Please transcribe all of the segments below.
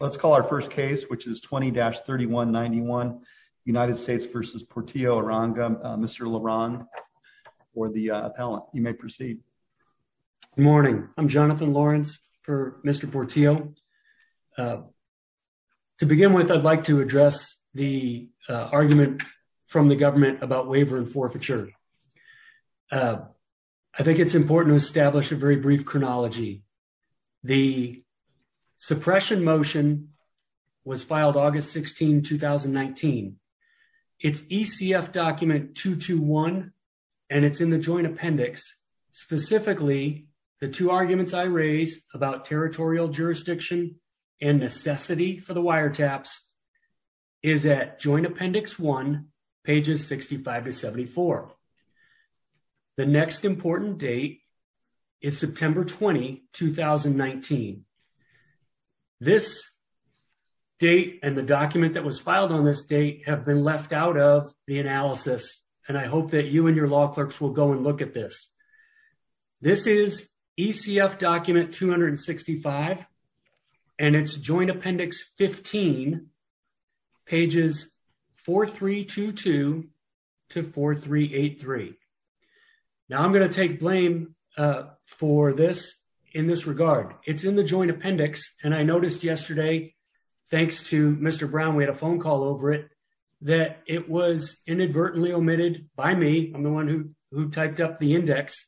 Let's call our first case, which is 20-3191, United States v. Portillo-Uranga. Mr. Laron, or the appellant, you may proceed. Good morning. I'm Jonathan Lawrence for Mr. Portillo. To begin with, I'd like to address the argument from the government about waiver and forfeiture. I think it's important to establish a very brief chronology. The suppression motion was filed August 16, 2019. It's ECF document 221, and it's in the Joint Appendix. Specifically, the two arguments I raise about territorial jurisdiction and necessity for the wiretaps is at Joint Appendix 1, pages 65 to 74. The next important date is September 20, 2019. This date and the document that was filed on this date have been left out of the analysis, and I hope that you and your law clerks will go and look at this. This is ECF document 265, and it's Joint Appendix 15, pages 4322 to 4383. Now, I'm going to take blame for this in this regard. It's in the Joint Appendix, and I noticed yesterday, thanks to Mr. Brown, we had a phone call over it, that it was inadvertently omitted by me. I'm the one who typed up the index.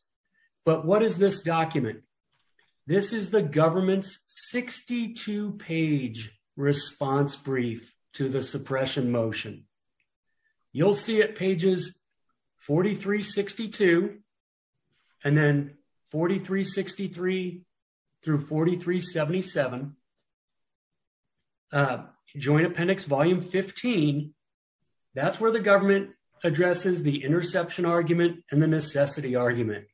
But what is this document? This is the government's 62-page response brief to the suppression motion. You'll see at pages 4362 and then 4363 through 4377, Joint Appendix Volume 15, that's where the government addresses the interception argument and the necessity argument.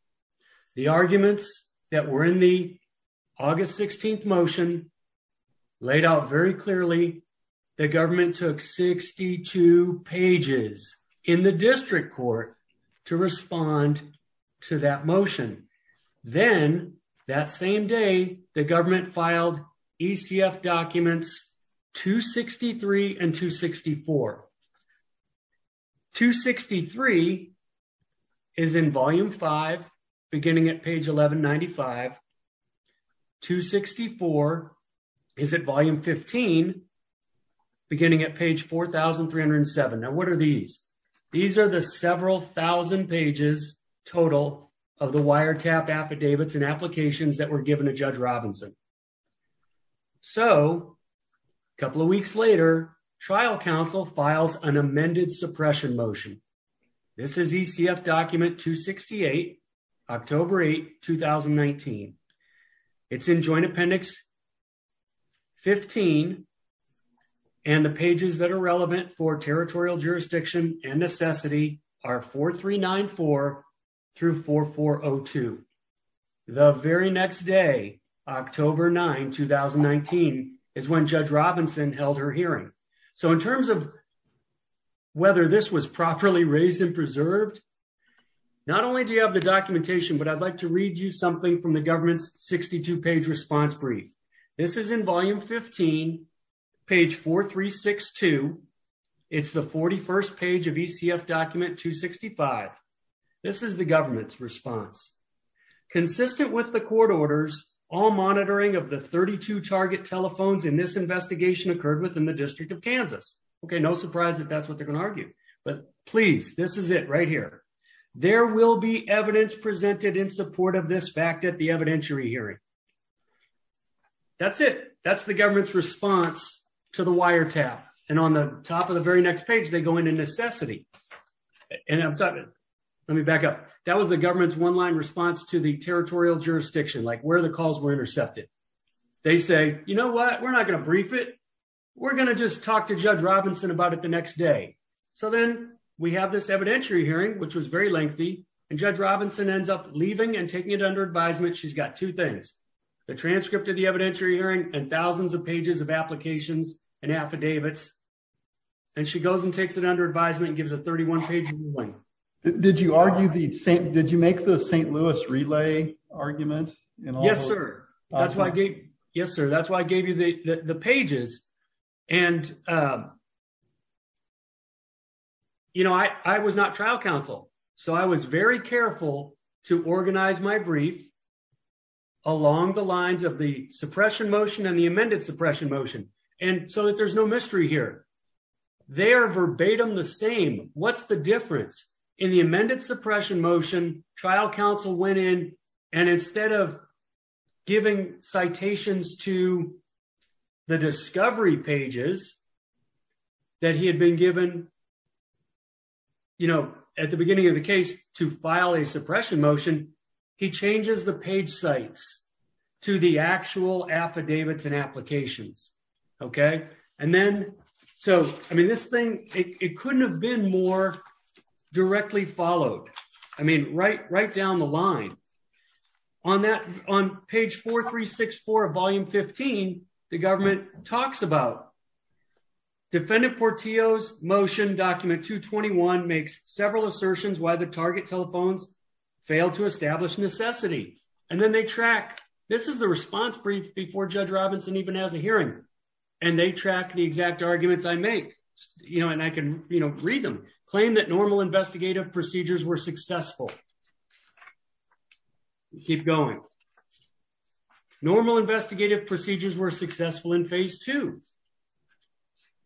The arguments that were in the August 16th motion laid out very two pages in the district court to respond to that motion. Then, that same day, the government filed ECF documents 263 and 264. 263 is in Volume 5, beginning at page 1195. 264 is at Volume 15, beginning at page 4307. Now, what are these? These are the several thousand pages total of the wiretapped affidavits and applications that were given to Judge Robinson. So, a couple of weeks later, trial counsel files an amended suppression motion. This is ECF document 268, October 8, 2019. It's in Joint Appendix 15, and the pages that are relevant for territorial jurisdiction and necessity are 4394 through 4402. The very next day, October 9, 2019, is when Judge Robinson held her hearing. So, in terms of whether this was properly raised and preserved, not only do you have the documentation, but I'd like to read you something from the government's 62-page response brief. This is in Volume 15, page 4362. It's the 41st page of ECF document 265. This is the government's response. Consistent with the court orders, all monitoring of the 32 target telephones in this investigation occurred within the District of Kansas. Okay, no surprise that that's what they're going to argue. But please, this is it right here. There will be evidence presented in support of this fact at the evidentiary hearing. That's it. That's the government's response to the wiretap, and on the top of the very next page, they go into necessity. And I'm talking, let me back up. That was the government's one-line response to the territorial jurisdiction, like where the calls were intercepted. They say, you know what? We're not going to brief it. We're going to just talk to Judge Robinson about it the next day. So then we have this evidentiary hearing, which was very lengthy, and Judge Robinson ends up leaving and taking it under advisement. She's got two things, the transcript of the evidentiary hearing and thousands of pages of applications and affidavits, and she goes and takes it under advisement and gives a 31-page ruling. Did you make the St. Louis relay argument? Yes, sir. Yes, sir. That's why I gave you the pages. And, you know, I was not trial counsel, so I was very careful to organize my brief along the lines of the suppression motion and the amended suppression motion, so that there's no mystery here. They are verbatim the same. What's the difference? In the amended suppression motion, trial counsel went in, and instead of giving citations to the discovery pages that he had been given, you know, at the beginning of the case to file a suppression motion, he changes the page sites to the actual affidavits and applications. Okay? And then, so, I mean, this thing, it couldn't have been more directly followed, I mean, right down the line. On that, on page 4364 of volume 15, the government talks about Defendant Portillo's motion document 221 makes several assertions why the target telephones failed to establish necessity, and then they track, this is the response brief before Judge Robinson even has a hearing, and they track the exact arguments I make, you know, and I can, you know, read them, claim that normal investigative procedures were successful. Keep going. Normal investigative procedures were successful in phase 2.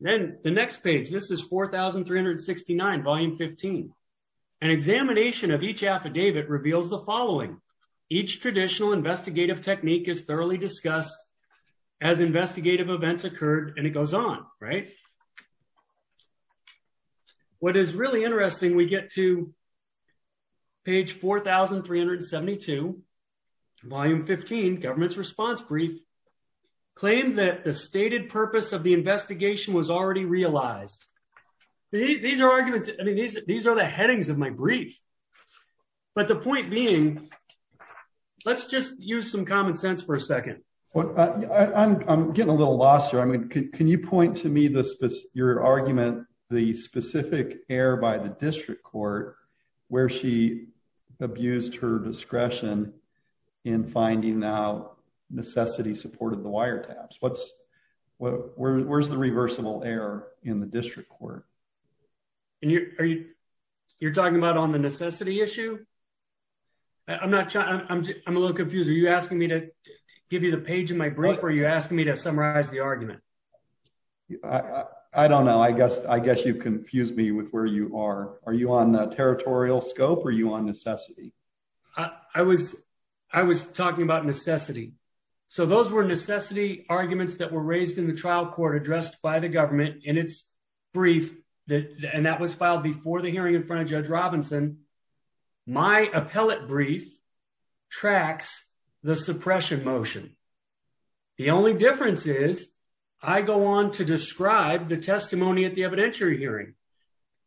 Then the next page, this is 4369 volume 15. An examination of each affidavit reveals the following. Each traditional investigative technique is thoroughly discussed as investigative events occurred, and it goes on, right? What is really interesting, we get to page 4372, volume 15, government's response brief, claim that the stated purpose of the investigation was already realized. These are arguments, I mean, these are the headings of my brief, but the point being, let's just use some common sense for a second. Well, I'm getting a little lost here. I mean, can you point to me your argument, the specific error by the district court where she abused her discretion in finding out necessity supported the wiretaps? What's, where's the reversible error in the district court? And you're talking about on the necessity issue? I'm not, I'm a little confused. Are you asking me to give you the page of my brief, or are you asking me to summarize the argument? I don't know. I guess, I guess you've confused me with where you are. Are you on the territorial scope? Are you on necessity? I was, I was talking about necessity. So those were necessity arguments that were raised in the trial court addressed by the government in its brief that, and that was filed before the hearing in front of Judge Robinson. My appellate brief tracks the suppression motion. The only difference is I go on to describe the testimony at the evidentiary hearing,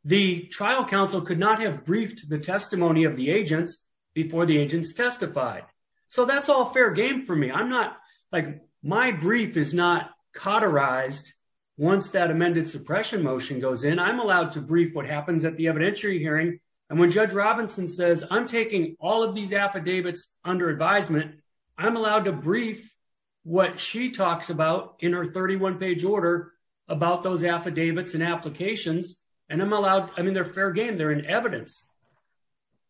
the trial counsel could not have briefed the testimony of the agents before the agents testified. So that's all fair game for me. I'm not like my brief is not cauterized. Once that amended suppression motion goes in, I'm allowed to brief what happens at the evidentiary hearing. And when Judge Robinson says I'm taking all of these affidavits under advisement, I'm allowed to brief what she talks about in her 31 page order about those affidavits and applications and I'm allowed, I mean, they're fair game. They're in evidence.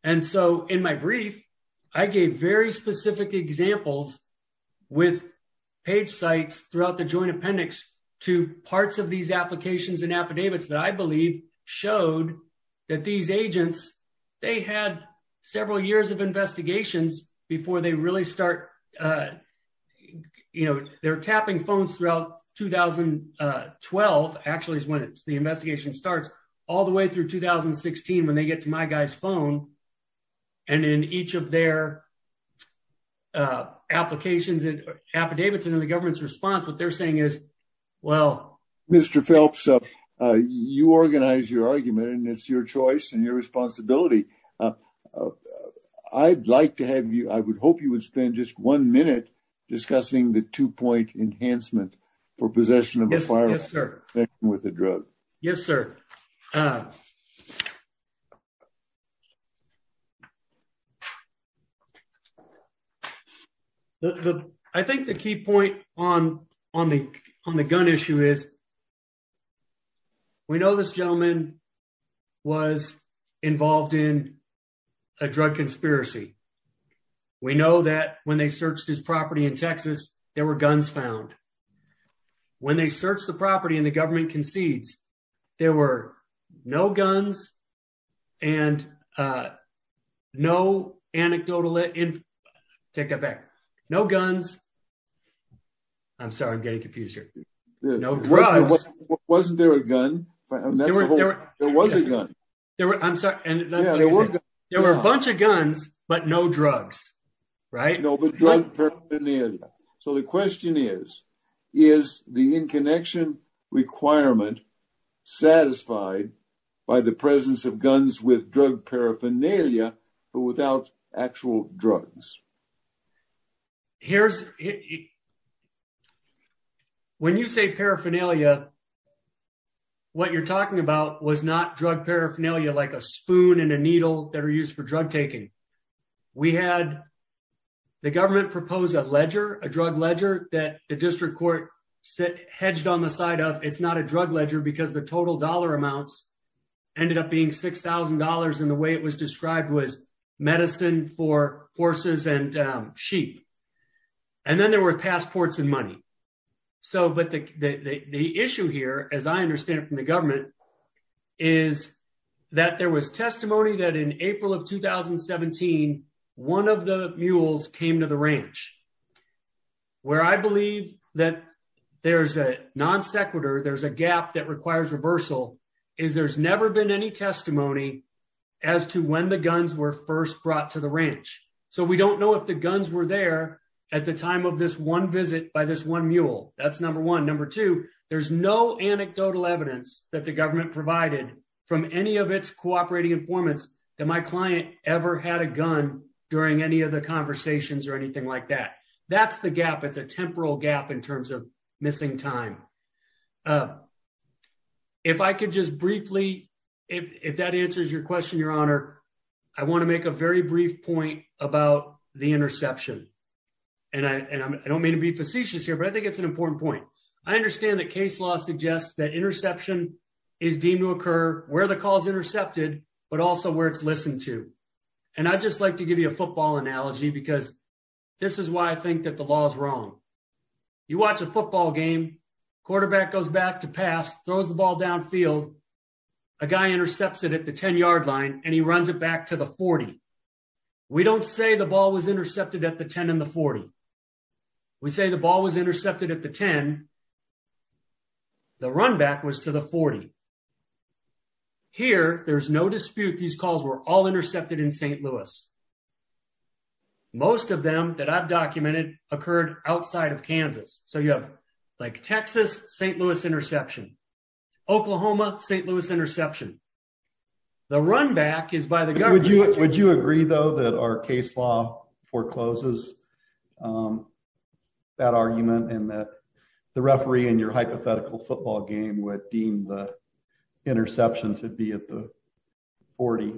And so in my brief, I gave very specific examples with page sites throughout the joint appendix to parts of these applications and affidavits that I believe showed that these agents, they had several years of investigations before they really start, you know, they're tapping phones throughout 2012, actually is when the investigation starts, all the way through 2016 when they get to my guy's phone. And in each of their applications and affidavits and in the government's response, what they're saying is, well, Mr. Phelps, you organize your argument and it's your choice and your I'd like to have you, I would hope you would spend just one minute discussing the two-point enhancement for possession of a firearm with a drug. Yes, sir. I think the key point on the gun issue is, we know this gentleman was involved in a drug conspiracy. We know that when they searched his property in Texas, there were guns found. When they searched the property and the government concedes, there were no guns and no anecdotal, take that back, no guns. I'm sorry, I'm getting confused here. No drugs. Wasn't there a gun? There was a gun. I'm sorry. There were a bunch of guns, but no drugs, right? No, but drug paraphernalia. So the question is, is the in-connection requirement satisfied by the presence of guns with drug paraphernalia, but without actual drugs? When you say paraphernalia, what you're talking about was not drug paraphernalia like a spoon and a needle that are used for drug taking. We had, the government proposed a ledger, a drug ledger that the district court hedged on the side of, it's not a drug ledger because the total dollar amounts ended up being $6,000 and the way it was described was medicine for horses and sheep, and then there were passports and money. So, but the issue here, as I understand it from the government, is that there was testimony that in April of 2017, one of the mules came to the ranch. Where I believe that there's a non sequitur, there's a gap that requires reversal, is there's never been any testimony as to when the guns were first brought to the ranch. So we don't know if the guns were there at the time of this one visit by this one mule, that's number one. Number two, there's no anecdotal evidence that the government provided from any of its cooperating informants that my client ever had a gun during any of the conversations or anything like that. That's the gap. It's a temporal gap in terms of missing time. If I could just briefly, if that answers your question, your honor, I want to make a very brief point about the interception, and I don't mean to be facetious here, but I think it's an important point. I understand that case law suggests that interception is deemed to occur where the call is intercepted, but also where it's listened to. And I'd just like to give you a football analogy because this is why I think that the law is wrong. You watch a football game, quarterback goes back to pass, throws the ball downfield, a guy intercepts it at the 10 yard line, and he runs it back to the 40. We don't say the ball was intercepted at the 10 and the 40. We say the ball was intercepted at the 10. The runback was to the 40. Here, there's no dispute. These calls were all intercepted in St. Louis. Most of them that I've documented occurred outside of Kansas. So you have like Texas-St. Louis interception, Oklahoma-St. Louis interception. The runback is by the government. Would you agree though that our case law forecloses that argument and that the referee in your hypothetical football game would deem the interception to be at the 40?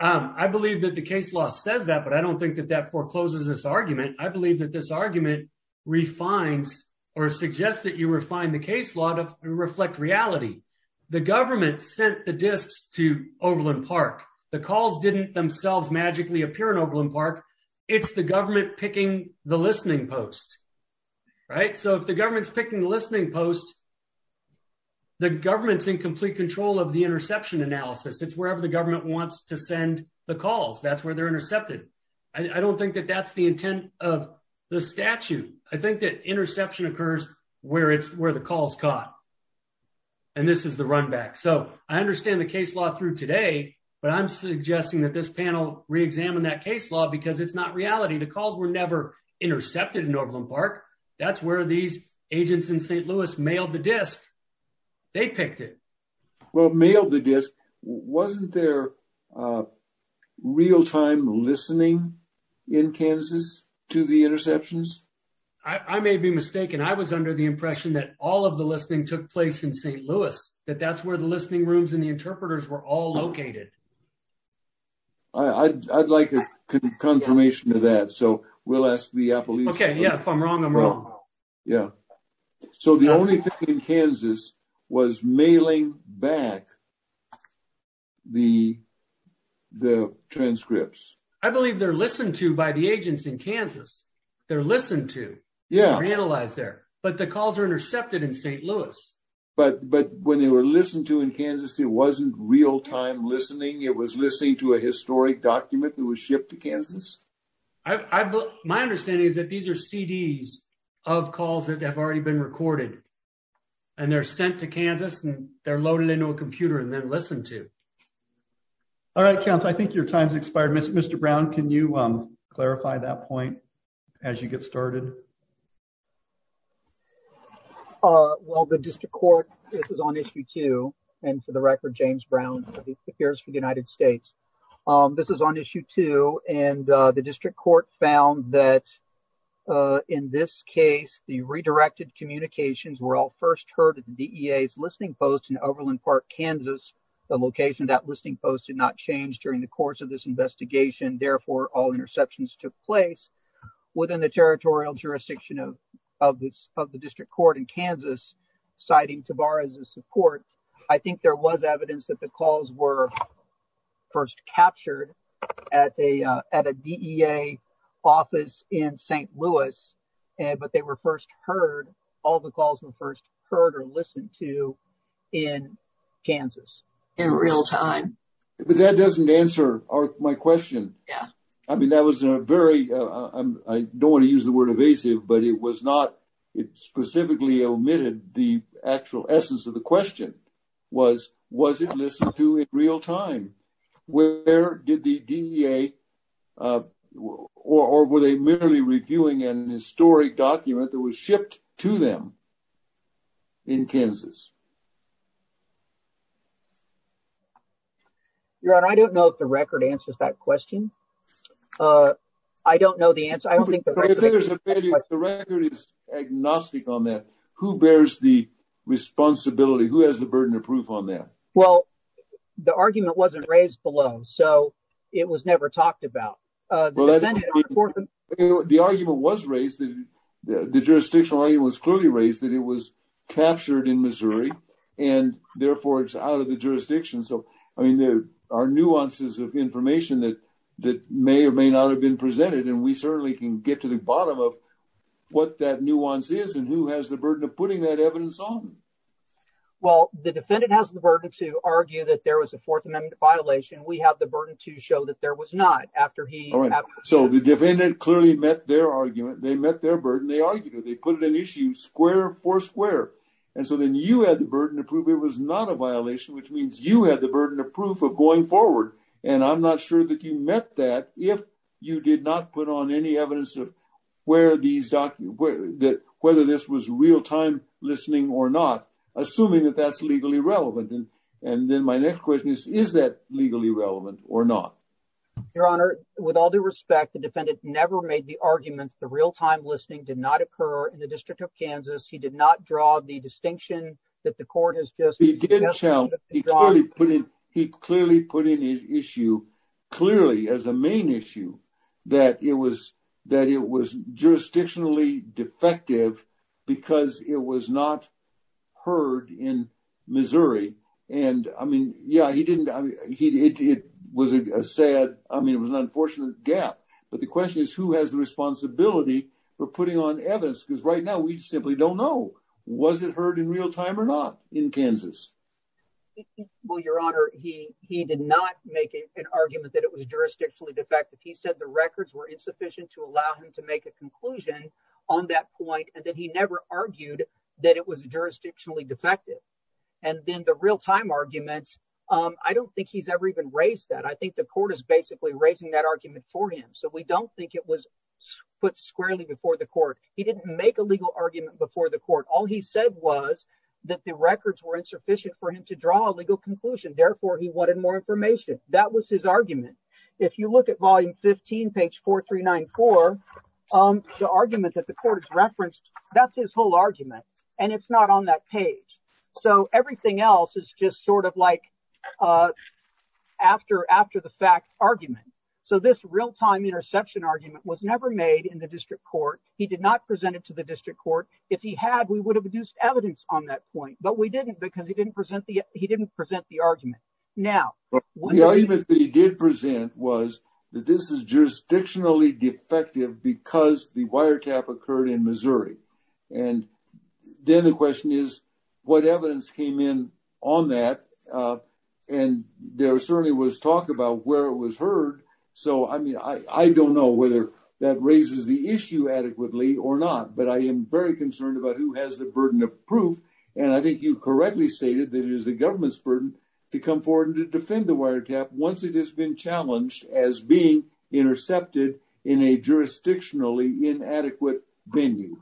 I believe that the case law says that, but I don't think that that forecloses this argument. I believe that this argument refines or suggests that you refine the case law to reflect reality. The government sent the discs to Overland Park. The calls didn't themselves magically appear in Overland Park. It's the government picking the listening post. Right? So if the government's picking the listening post, the government's in complete control of the interception analysis. It's wherever the government wants to send the calls. That's where they're intercepted. I don't think that that's the intent of the statute. I think that interception occurs where it's where the calls caught. And this is the run back. So I understand the case law through today, but I'm suggesting that this panel re-examine that case law because it's not reality. The calls were never intercepted in Overland Park. That's where these agents in St. Louis mailed the disc. They picked it. Well, mailed the disc. Wasn't there real-time listening in Kansas to the interceptions? I may be mistaken. I was under the impression that all of the listening took place in St. Louis, that that's where the listening rooms and the interpreters were all located. I'd like a confirmation of that. So we'll ask the police. Okay. Yeah, if I'm wrong, I'm wrong. Yeah. So the only thing in Kansas was mailing back the transcripts. I believe they're listened to by the agents in Kansas. They're listened to. Yeah, they're analyzed there, but the calls are intercepted in St. Louis. But when they were listened to in Kansas, it wasn't real-time listening. It was listening to a historic document that was shipped to Kansas. My understanding is that these are CDs of calls that have already been recorded and they're sent to Kansas and they're loaded into a computer and then listened to. All right, counsel. I think your time's expired. Mr. Brown, can you clarify that point as you get started? Well, the district court, this is on issue two, and for the record, James Brown appears for the United States. This is on issue two and the district court found that in this case, the redirected communications were all first heard at the DEA's listening post in Overland Park, Kansas. The location of that listening post did not change during the course of this investigation. Therefore, all interceptions took place within the territorial jurisdiction of the district court in Kansas, citing Tabar as a support. I think there was evidence that the calls were first captured at a DEA office in St. Louis, but they were first heard, all the calls were first heard or listened to in Kansas. In real-time. But that doesn't answer my question. Yeah. I mean, that was a very, I don't want to use the word evasive, but it was not, it specifically omitted the actual essence of the question was, was it listened to in real-time? Where did the DEA, or were they merely reviewing an historic document that was shipped to them in Kansas? Your Honor, I don't know if the record answers that question. I don't know the answer. I don't think the record is agnostic on that. Who bears the responsibility? Who has the burden of proof on that? Well, the argument wasn't raised below. So it was never talked about. The argument was raised, the jurisdictional argument was clearly raised that it was captured in Missouri, and therefore it's out of the jurisdiction. So, I mean, there are nuances of information that may or may not have been presented, and we certainly can get to the bottom of what that nuance is. And who has the burden of putting that evidence on? Well, the defendant has the burden to argue that there was a Fourth Amendment violation. We have the burden to show that there was not after he... All right. So the defendant clearly met their argument. They met their burden. They argued it. They put it in issue, square for square. And so then you had the burden to prove it was not a violation, which means you had the burden of proof of going forward, and I'm not sure that you met that if you did not put on any evidence of where these documents... whether this was real-time listening or not, assuming that that's legally relevant. And then my next question is, is that legally relevant or not? Your Honor, with all due respect, the defendant never made the argument the real-time listening did not occur in the District of Kansas. He did not draw the distinction that the court has just... He did challenge. He clearly put in... He clearly put in issue, clearly as a main issue, that it was jurisdictionally defective because it was not heard in Missouri. And I mean, yeah, he didn't... I mean, it was a sad... I mean, it was an unfortunate gap. But the question is, who has the responsibility for putting on evidence? Because right now, we simply don't know. Was it heard in real-time or not in Kansas? Well, Your Honor, he did not make an argument that it was jurisdictionally defective. He said the records were insufficient to allow him to make a conclusion on that point. And then he never argued that it was jurisdictionally defective. And then the real-time arguments, I don't think he's ever even raised that. I think the court is basically raising that argument for him. So we don't think it was put squarely before the court. He didn't make a legal argument before the court. All he said was that the records were insufficient for him to draw a legal conclusion. Therefore, he wanted more information. That was his argument. If you look at volume 15, page 4394, the argument that the court has referenced, that's his whole argument. And it's not on that page. So everything else is just sort of like after-the-fact argument. So this real-time interception argument was never made in the district court. He did not present it to the district court. If he had, we would have produced evidence on that point, but we didn't because he didn't present the argument. Now, the argument that he did present was that this is jurisdictionally defective because the wiretap occurred in Missouri. And then the question is, what evidence came in on that? And there certainly was talk about where it was heard. So, I mean, I don't know whether that raises the issue adequately or not. But I am very concerned about who has the burden of proof, and I think you correctly stated that it is the government's burden to come forward and to defend the wiretap once it has been challenged as being intercepted in a jurisdictionally inadequate venue.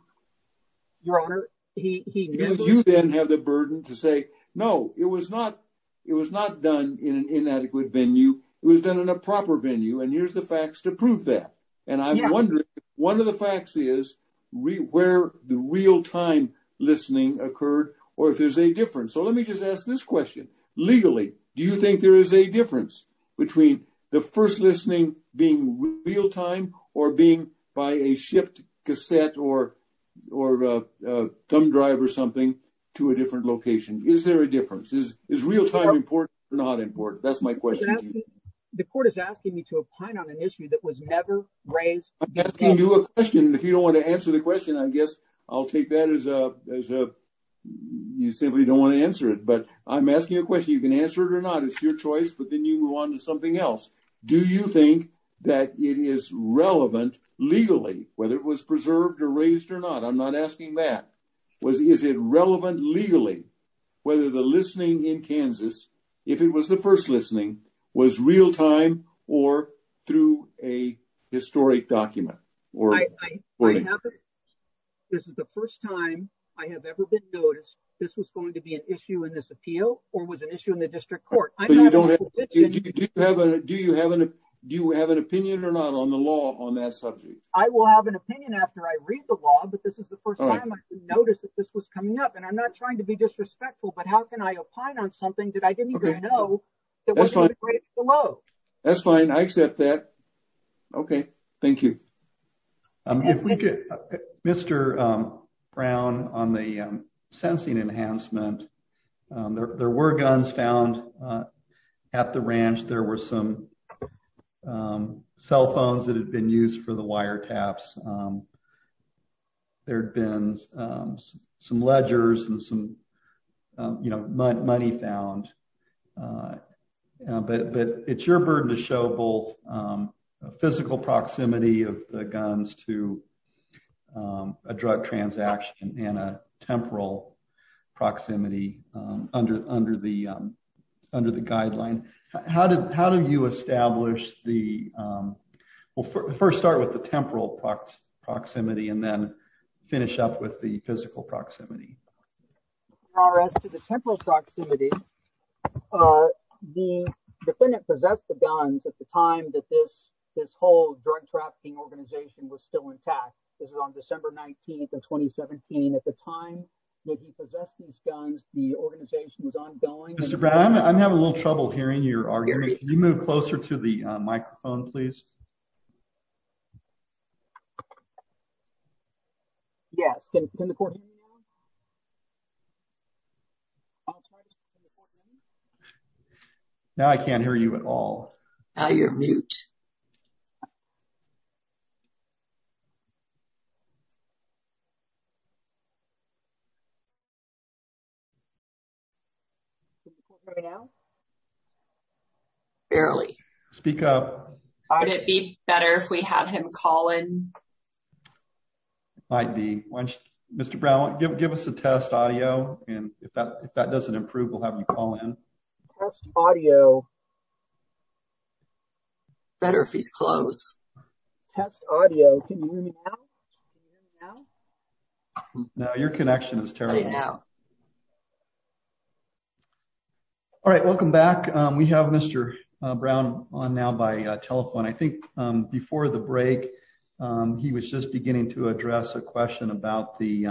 Your Honor, he... Do you then have the burden to say, no, it was not, it was not done in an inadequate venue. It was done in a proper venue. And here's the facts to prove that. And I'm wondering, one of the facts is where the real-time listening occurred or if there's a difference. So, let me just ask this question. Legally, do you think there is a difference between the first listening being real-time or being by a shipped cassette or thumb drive or something to a different location? Is there a difference? That's my question to you. The court is asking me to opine on an issue that was never raised. I'm asking you a question. If you don't want to answer the question, I guess I'll take that as a, you simply don't want to answer it. But I'm asking a question. You can answer it or not. It's your choice. But then you move on to something else. Do you think that it is relevant legally, whether it was preserved or raised or not? I'm not asking that. Is it relevant legally, whether the listening in Kansas, if it was the first listening, was real-time or through a historic document? This is the first time I have ever been noticed this was going to be an issue in this appeal or was an issue in the district court. Do you have an opinion or not on the law on that subject? I will have an opinion after I read the law, but this is the first time I noticed that this was coming up and I'm not trying to be disrespectful, but how can I opine on something that I didn't know that was going to be raised below? That's fine. I accept that. Okay. Thank you. Mr. Brown, on the sensing enhancement, there were guns found at the ranch. There were some cell phones that had been used for the wire taps. There'd been some ledgers and some, you know, money found. But it's your burden to show both physical proximity of the guns to a drug transaction and a temporal proximity under the guideline. How do you establish the, well, first start with the temporal proximity and then finish up with the physical proximity? As to the temporal proximity, the defendant possessed the guns at the time that this whole drug trafficking organization was still intact. This is on December 19th of 2017. At the time that he possessed these guns, the organization was ongoing. Mr. Brown, I'm having a little trouble hearing your argument. Can you move closer to the microphone, please? Yes. Now, I can't hear you at all. Now, you're mute. Barely. Speak up. Would it be better if we have him call in? Might be. Mr. Brown, give us a test audio. And if that doesn't improve, we'll have you call in. Test audio. Better if he's close. Test audio. Can you hear me now? Now, your connection is terrible. All right. Welcome back. We have Mr. Brown on now by telephone. I think before the break, he was just beginning to address a question about the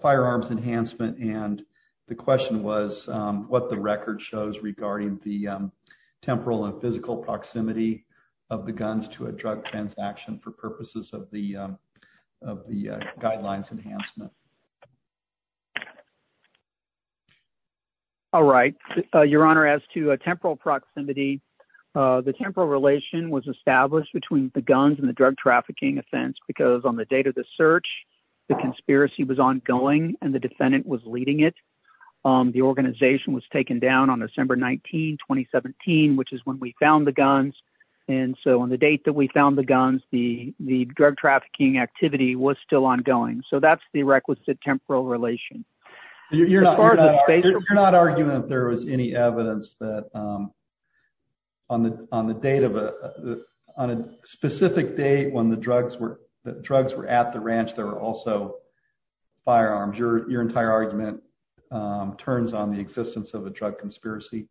firearms enhancement. And the question was what the record shows regarding the temporal and physical proximity of the guns to a drug transaction for purposes of the guidelines enhancement. All right, your honor, as to a temporal proximity, the temporal relation was established between the guns and the drug trafficking offense because on the date of the search, the conspiracy was ongoing and the defendant was leading it. The organization was taken down on December 19, 2017, which is when we found the guns. And so on the date that we found the guns, the drug trafficking activity was still ongoing. So that's the requisite temporal relation. You're not arguing that there was any evidence that on the date of a specific date when the drugs were at the ranch, there were also firearms. Your entire argument turns on the existence of a drug conspiracy.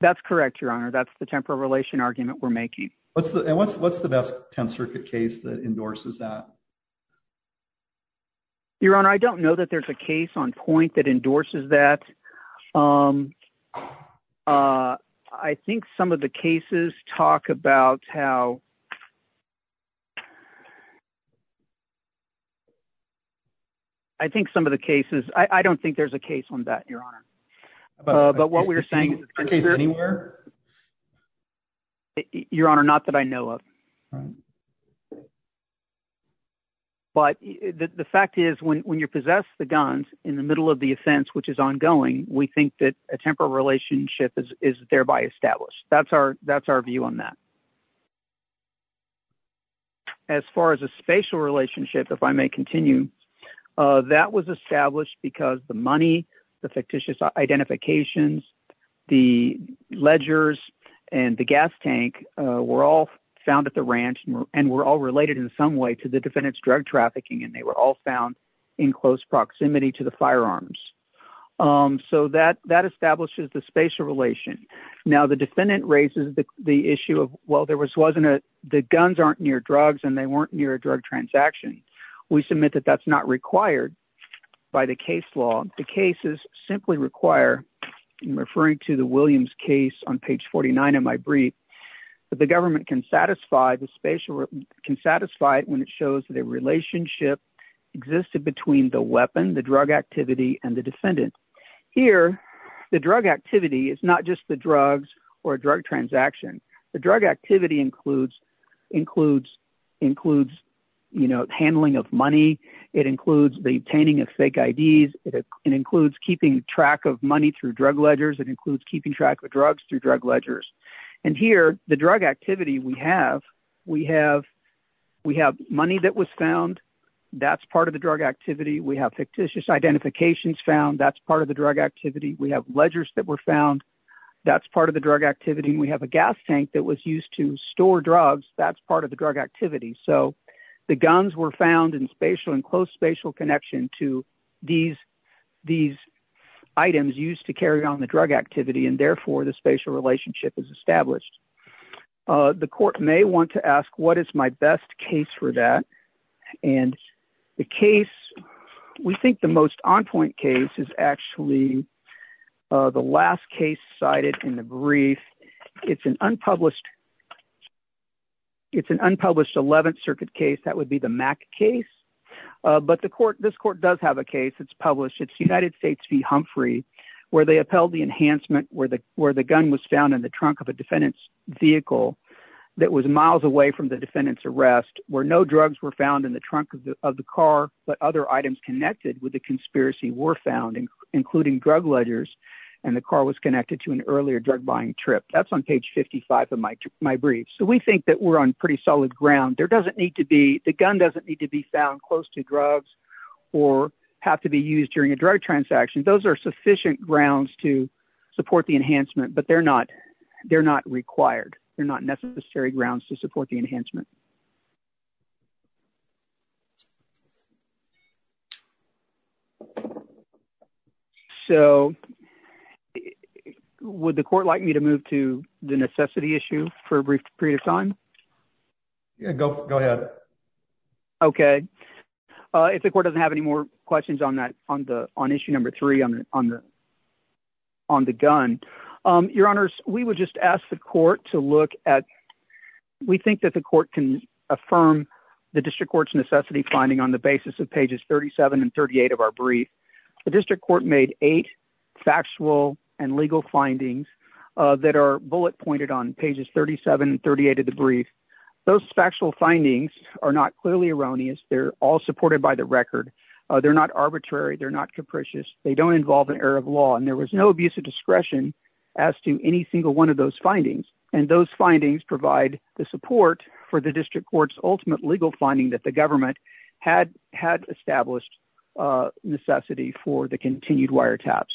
That's correct, your honor. That's the temporal relation argument we're making. What's the best 10th Circuit case that endorses that? Your honor, I don't know that there's a case on point that endorses that. I think some of the cases talk about how... I think some of the cases... I don't think there's a case on that, your honor. But what we're saying is... Is there a case anywhere? Your honor, not that I know of. But the fact is when you possess the guns in the middle of the ongoing, we think that a temporal relationship is thereby established. That's our view on that. As far as a spatial relationship, if I may continue, that was established because the money, the fictitious identifications, the ledgers, and the gas tank were all found at the ranch and were all related in some way to the defendant's drug trafficking and they were all found in close proximity to the firearms. So that establishes the spatial relation. Now, the defendant raises the issue of, well, there was wasn't a... The guns aren't near drugs and they weren't near a drug transaction. We submit that that's not required by the case law. The cases simply require, referring to the Williams case on page 49 of my brief, that the government can satisfy the spatial... Can satisfy it when it shows that a relationship existed between the weapon, the drug activity, and the defendant. Here, the drug activity is not just the drugs or drug transaction. The drug activity includes handling of money. It includes the obtaining of fake IDs. It includes keeping track of money through drug ledgers. It includes keeping track of drugs through drug ledgers. And here, the drug activity we have, we have money that was found. That's part of the drug activity. We have fictitious identifications found. That's part of the drug activity. We have ledgers that were found. That's part of the drug activity. And we have a gas tank that was used to store drugs. That's part of the drug activity. So, the guns were found in spatial and close spatial connection to these... These items used to carry on the drug activity. And therefore, the spatial relationship is established. The court may want to ask, what is my best case for that? And the case, we think the most on-point case is actually the last case cited in the brief. It's an unpublished... It's an unpublished 11th Circuit case. That would be the Mack case. But the court... This court does have a case. It's published. It's United States v. Humphrey, where they upheld the enhancement where the gun was found in the trunk of a defendant's vehicle that was miles away from the defendant's arrest, where no drugs were found in the trunk of the car, but other items connected with the conspiracy were found, including drug ledgers. And the car was connected to an earlier drug-buying trip. That's on page 55 of my brief. So, we think that we're on pretty solid ground. There doesn't need to be... The gun doesn't need to be found close to drugs or have to be used during a drug transaction. Those are sufficient grounds to support the enhancement, but they're not required. They're not necessary grounds to support the enhancement. So, would the court like me to move to the necessity issue for a brief period of time? Yeah, go ahead. Okay. If the court doesn't have any more questions on that, on issue number three on the gun. Your Honors, we would just ask the court to look at... The District Court's necessity finding on the basis of pages 37 and 38 of our brief. The District Court made eight factual and legal findings that are bullet-pointed on pages 37 and 38 of the brief. Those factual findings are not clearly erroneous. They're all supported by the record. They're not arbitrary. They're not capricious. They don't involve an error of law. And there was no abuse of discretion as to any single one of those findings. And those findings provide the support for the District Court's ultimate legal finding that the government had established necessity for the continued wiretaps.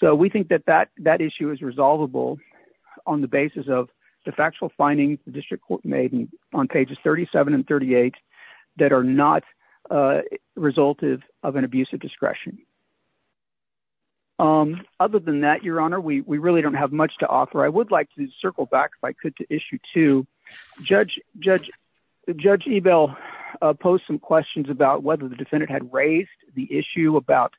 So, we think that that issue is resolvable on the basis of the factual findings the District Court made on pages 37 and 38 that are not resultive of an abuse of discretion. Other than that, Your Honor, we really don't have much to offer. I would like to circle back, if I could, to issue two. Judge Ebel posed some questions about whether the defendant had raised the issue about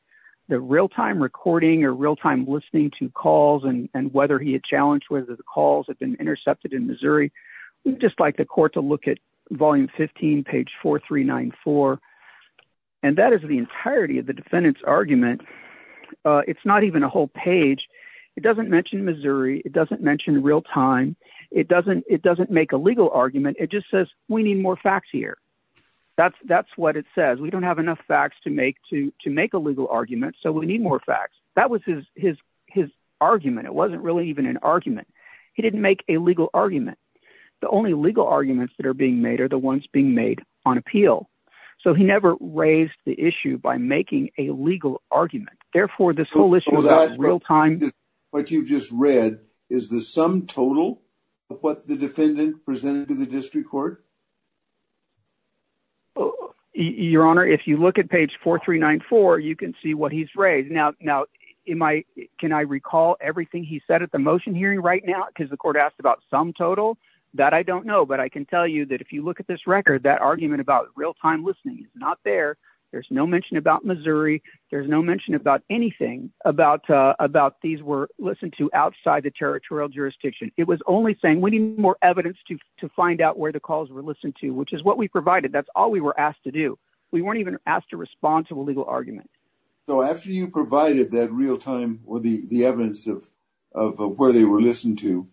the real-time recording or real-time listening to calls and whether he had challenged whether the calls had been intercepted in Missouri. We'd just like the court to look at volume 15, page 4394. And that is the entirety of the defendant's argument. It's not even a whole page. It doesn't mention Missouri. It doesn't mention real-time. It doesn't make a legal argument. It just says, we need more facts here. That's what it says. We don't have enough facts to make a legal argument, so we need more facts. That was his argument. It wasn't really even an argument. He didn't make a legal argument. The only legal arguments that are being made are the ones being made on appeal. So, he never raised the issue by making a legal argument. Therefore, this whole issue about real-time— is the sum total of what the defendant presented to the district court? Your Honor, if you look at page 4394, you can see what he's raised. Now, can I recall everything he said at the motion hearing right now because the court asked about sum total? That I don't know, but I can tell you that if you look at this record, that argument about real-time listening is not there. There's no mention about Missouri. There's no mention about anything about these were listened to outside the territorial jurisdiction. It was only saying we need more evidence to find out where the calls were listened to, which is what we provided. That's all we were asked to do. We weren't even asked to respond to a legal argument. So, after you provided that real-time— or the evidence of where they were listened to,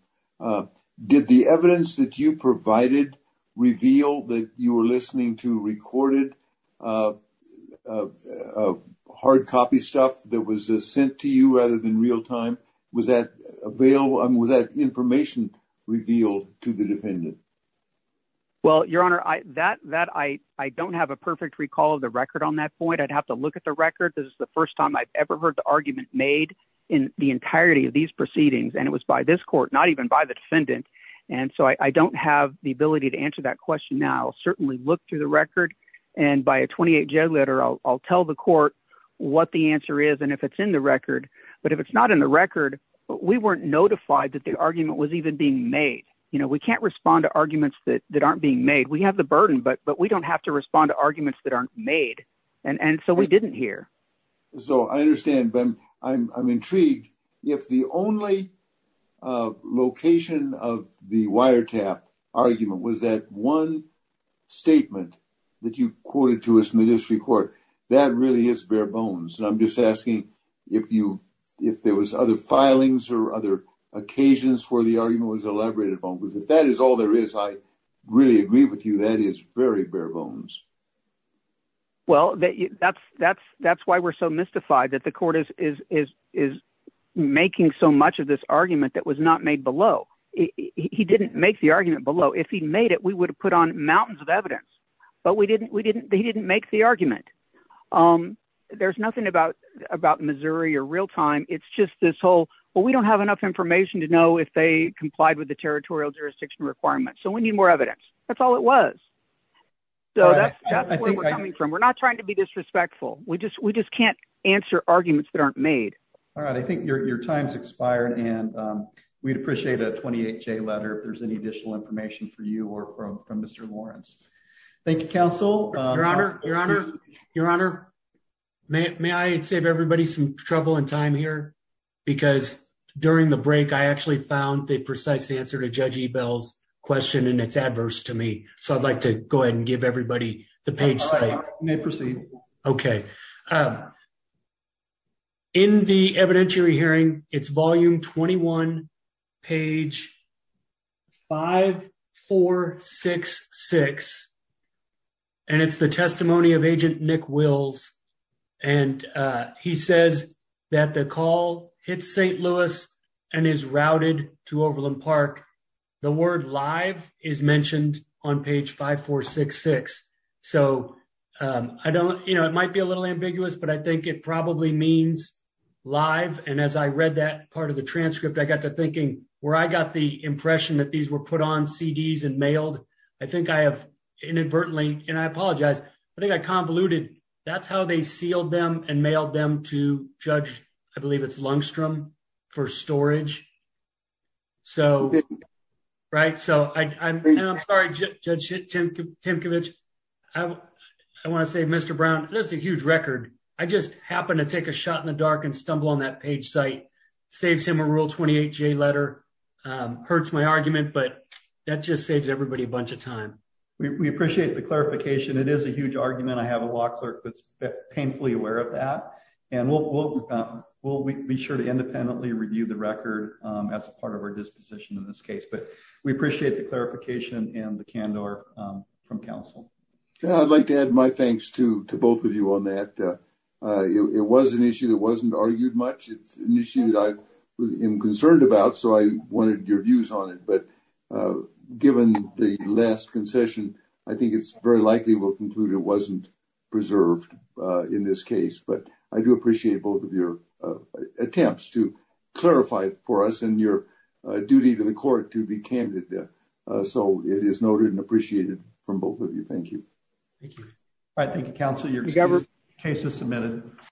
did the evidence that you provided reveal that you were listening to recorded, hard copy stuff that was sent to you rather than real-time? Was that information revealed to the defendant? Well, Your Honor, I don't have a perfect recall of the record on that point. I'd have to look at the record. This is the first time I've ever heard the argument made in the entirety of these proceedings, and it was by this court, not even by the defendant. And so, I don't have the ability to answer that question now. I'll certainly look through the record, and by a 28-J letter, I'll tell the court what the answer is, and if it's in the record. But if it's not in the record, we weren't notified that the argument was even being made. You know, we can't respond to arguments that aren't being made. We have the burden, but we don't have to respond to arguments that aren't made. And so, we didn't hear. So, I understand, but I'm intrigued. If the only location of the wiretap argument was that one statement that you quoted to us in the district court, that really is bare bones. And I'm just asking if there was other filings or other occasions where the argument was elaborated upon, because if that is all there is, I really agree with you. That is very bare bones. Well, that's why we're so mystified that the court is making so much of this argument that was not made below. He didn't make the argument below. If he made it, we would have put on mountains of evidence, but he didn't make the argument. There's nothing about Missouri or real-time. It's just this whole, well, we don't have enough information to know if they complied with the territorial jurisdiction requirements. So, we need more evidence. That's all it was. So, that's where we're coming from. We're not trying to be disrespectful. We just can't answer arguments that aren't made. All right. I think your time's expired, and we'd appreciate a 28-J letter if there's any additional information for you or from Mr. Lawrence. Thank you, counsel. Your Honor, may I save everybody some trouble and time here? Because during the break, I actually found the precise answer to Judge Ebell's question, and it's adverse to me. So, I'd like to go ahead and give everybody the page site. You may proceed. Okay. In the evidentiary hearing, it's volume 21, page 5466. And it's the testimony of Agent Nick Wills. And he says that the call hits St. Louis and is routed to Overland Park. The word live is mentioned on page 5466. So, I don't, you know, it might be a little ambiguous, but I think it probably means live. And as I read that part of the transcript, I got to thinking where I got the impression that these were put on CDs and mailed. I think I have inadvertently, and I apologize. I think I convoluted. That's how they sealed them and mailed them to Judge, I believe it's Lungstrom, for storage. So, right? So, I'm sorry, Judge Timcovich. I want to say, Mr. Brown, this is a huge record. I just happened to take a shot in the dark and stumble on that page site. Saves him a Rule 28J letter. Hurts my argument, but that just saves everybody a bunch of time. We appreciate the clarification. It is a huge argument. I have a law clerk that's painfully aware of that and we'll be sure to independently review the record as a part of our disposition in this case. But we appreciate the clarification and the candor from Council. I'd like to add my thanks to both of you on that. It was an issue that wasn't argued much. It's an issue that I am concerned about. So, I wanted your views on it. But given the last concession, I think it's very likely we'll conclude it wasn't preserved in this case. But I do appreciate both of your attempts to clarify for us and your duty to the court to be candid there. So, it is noted and appreciated from both of you. Thank you. Thank you. All right. Thank you, Council. You're excused. Case is submitted.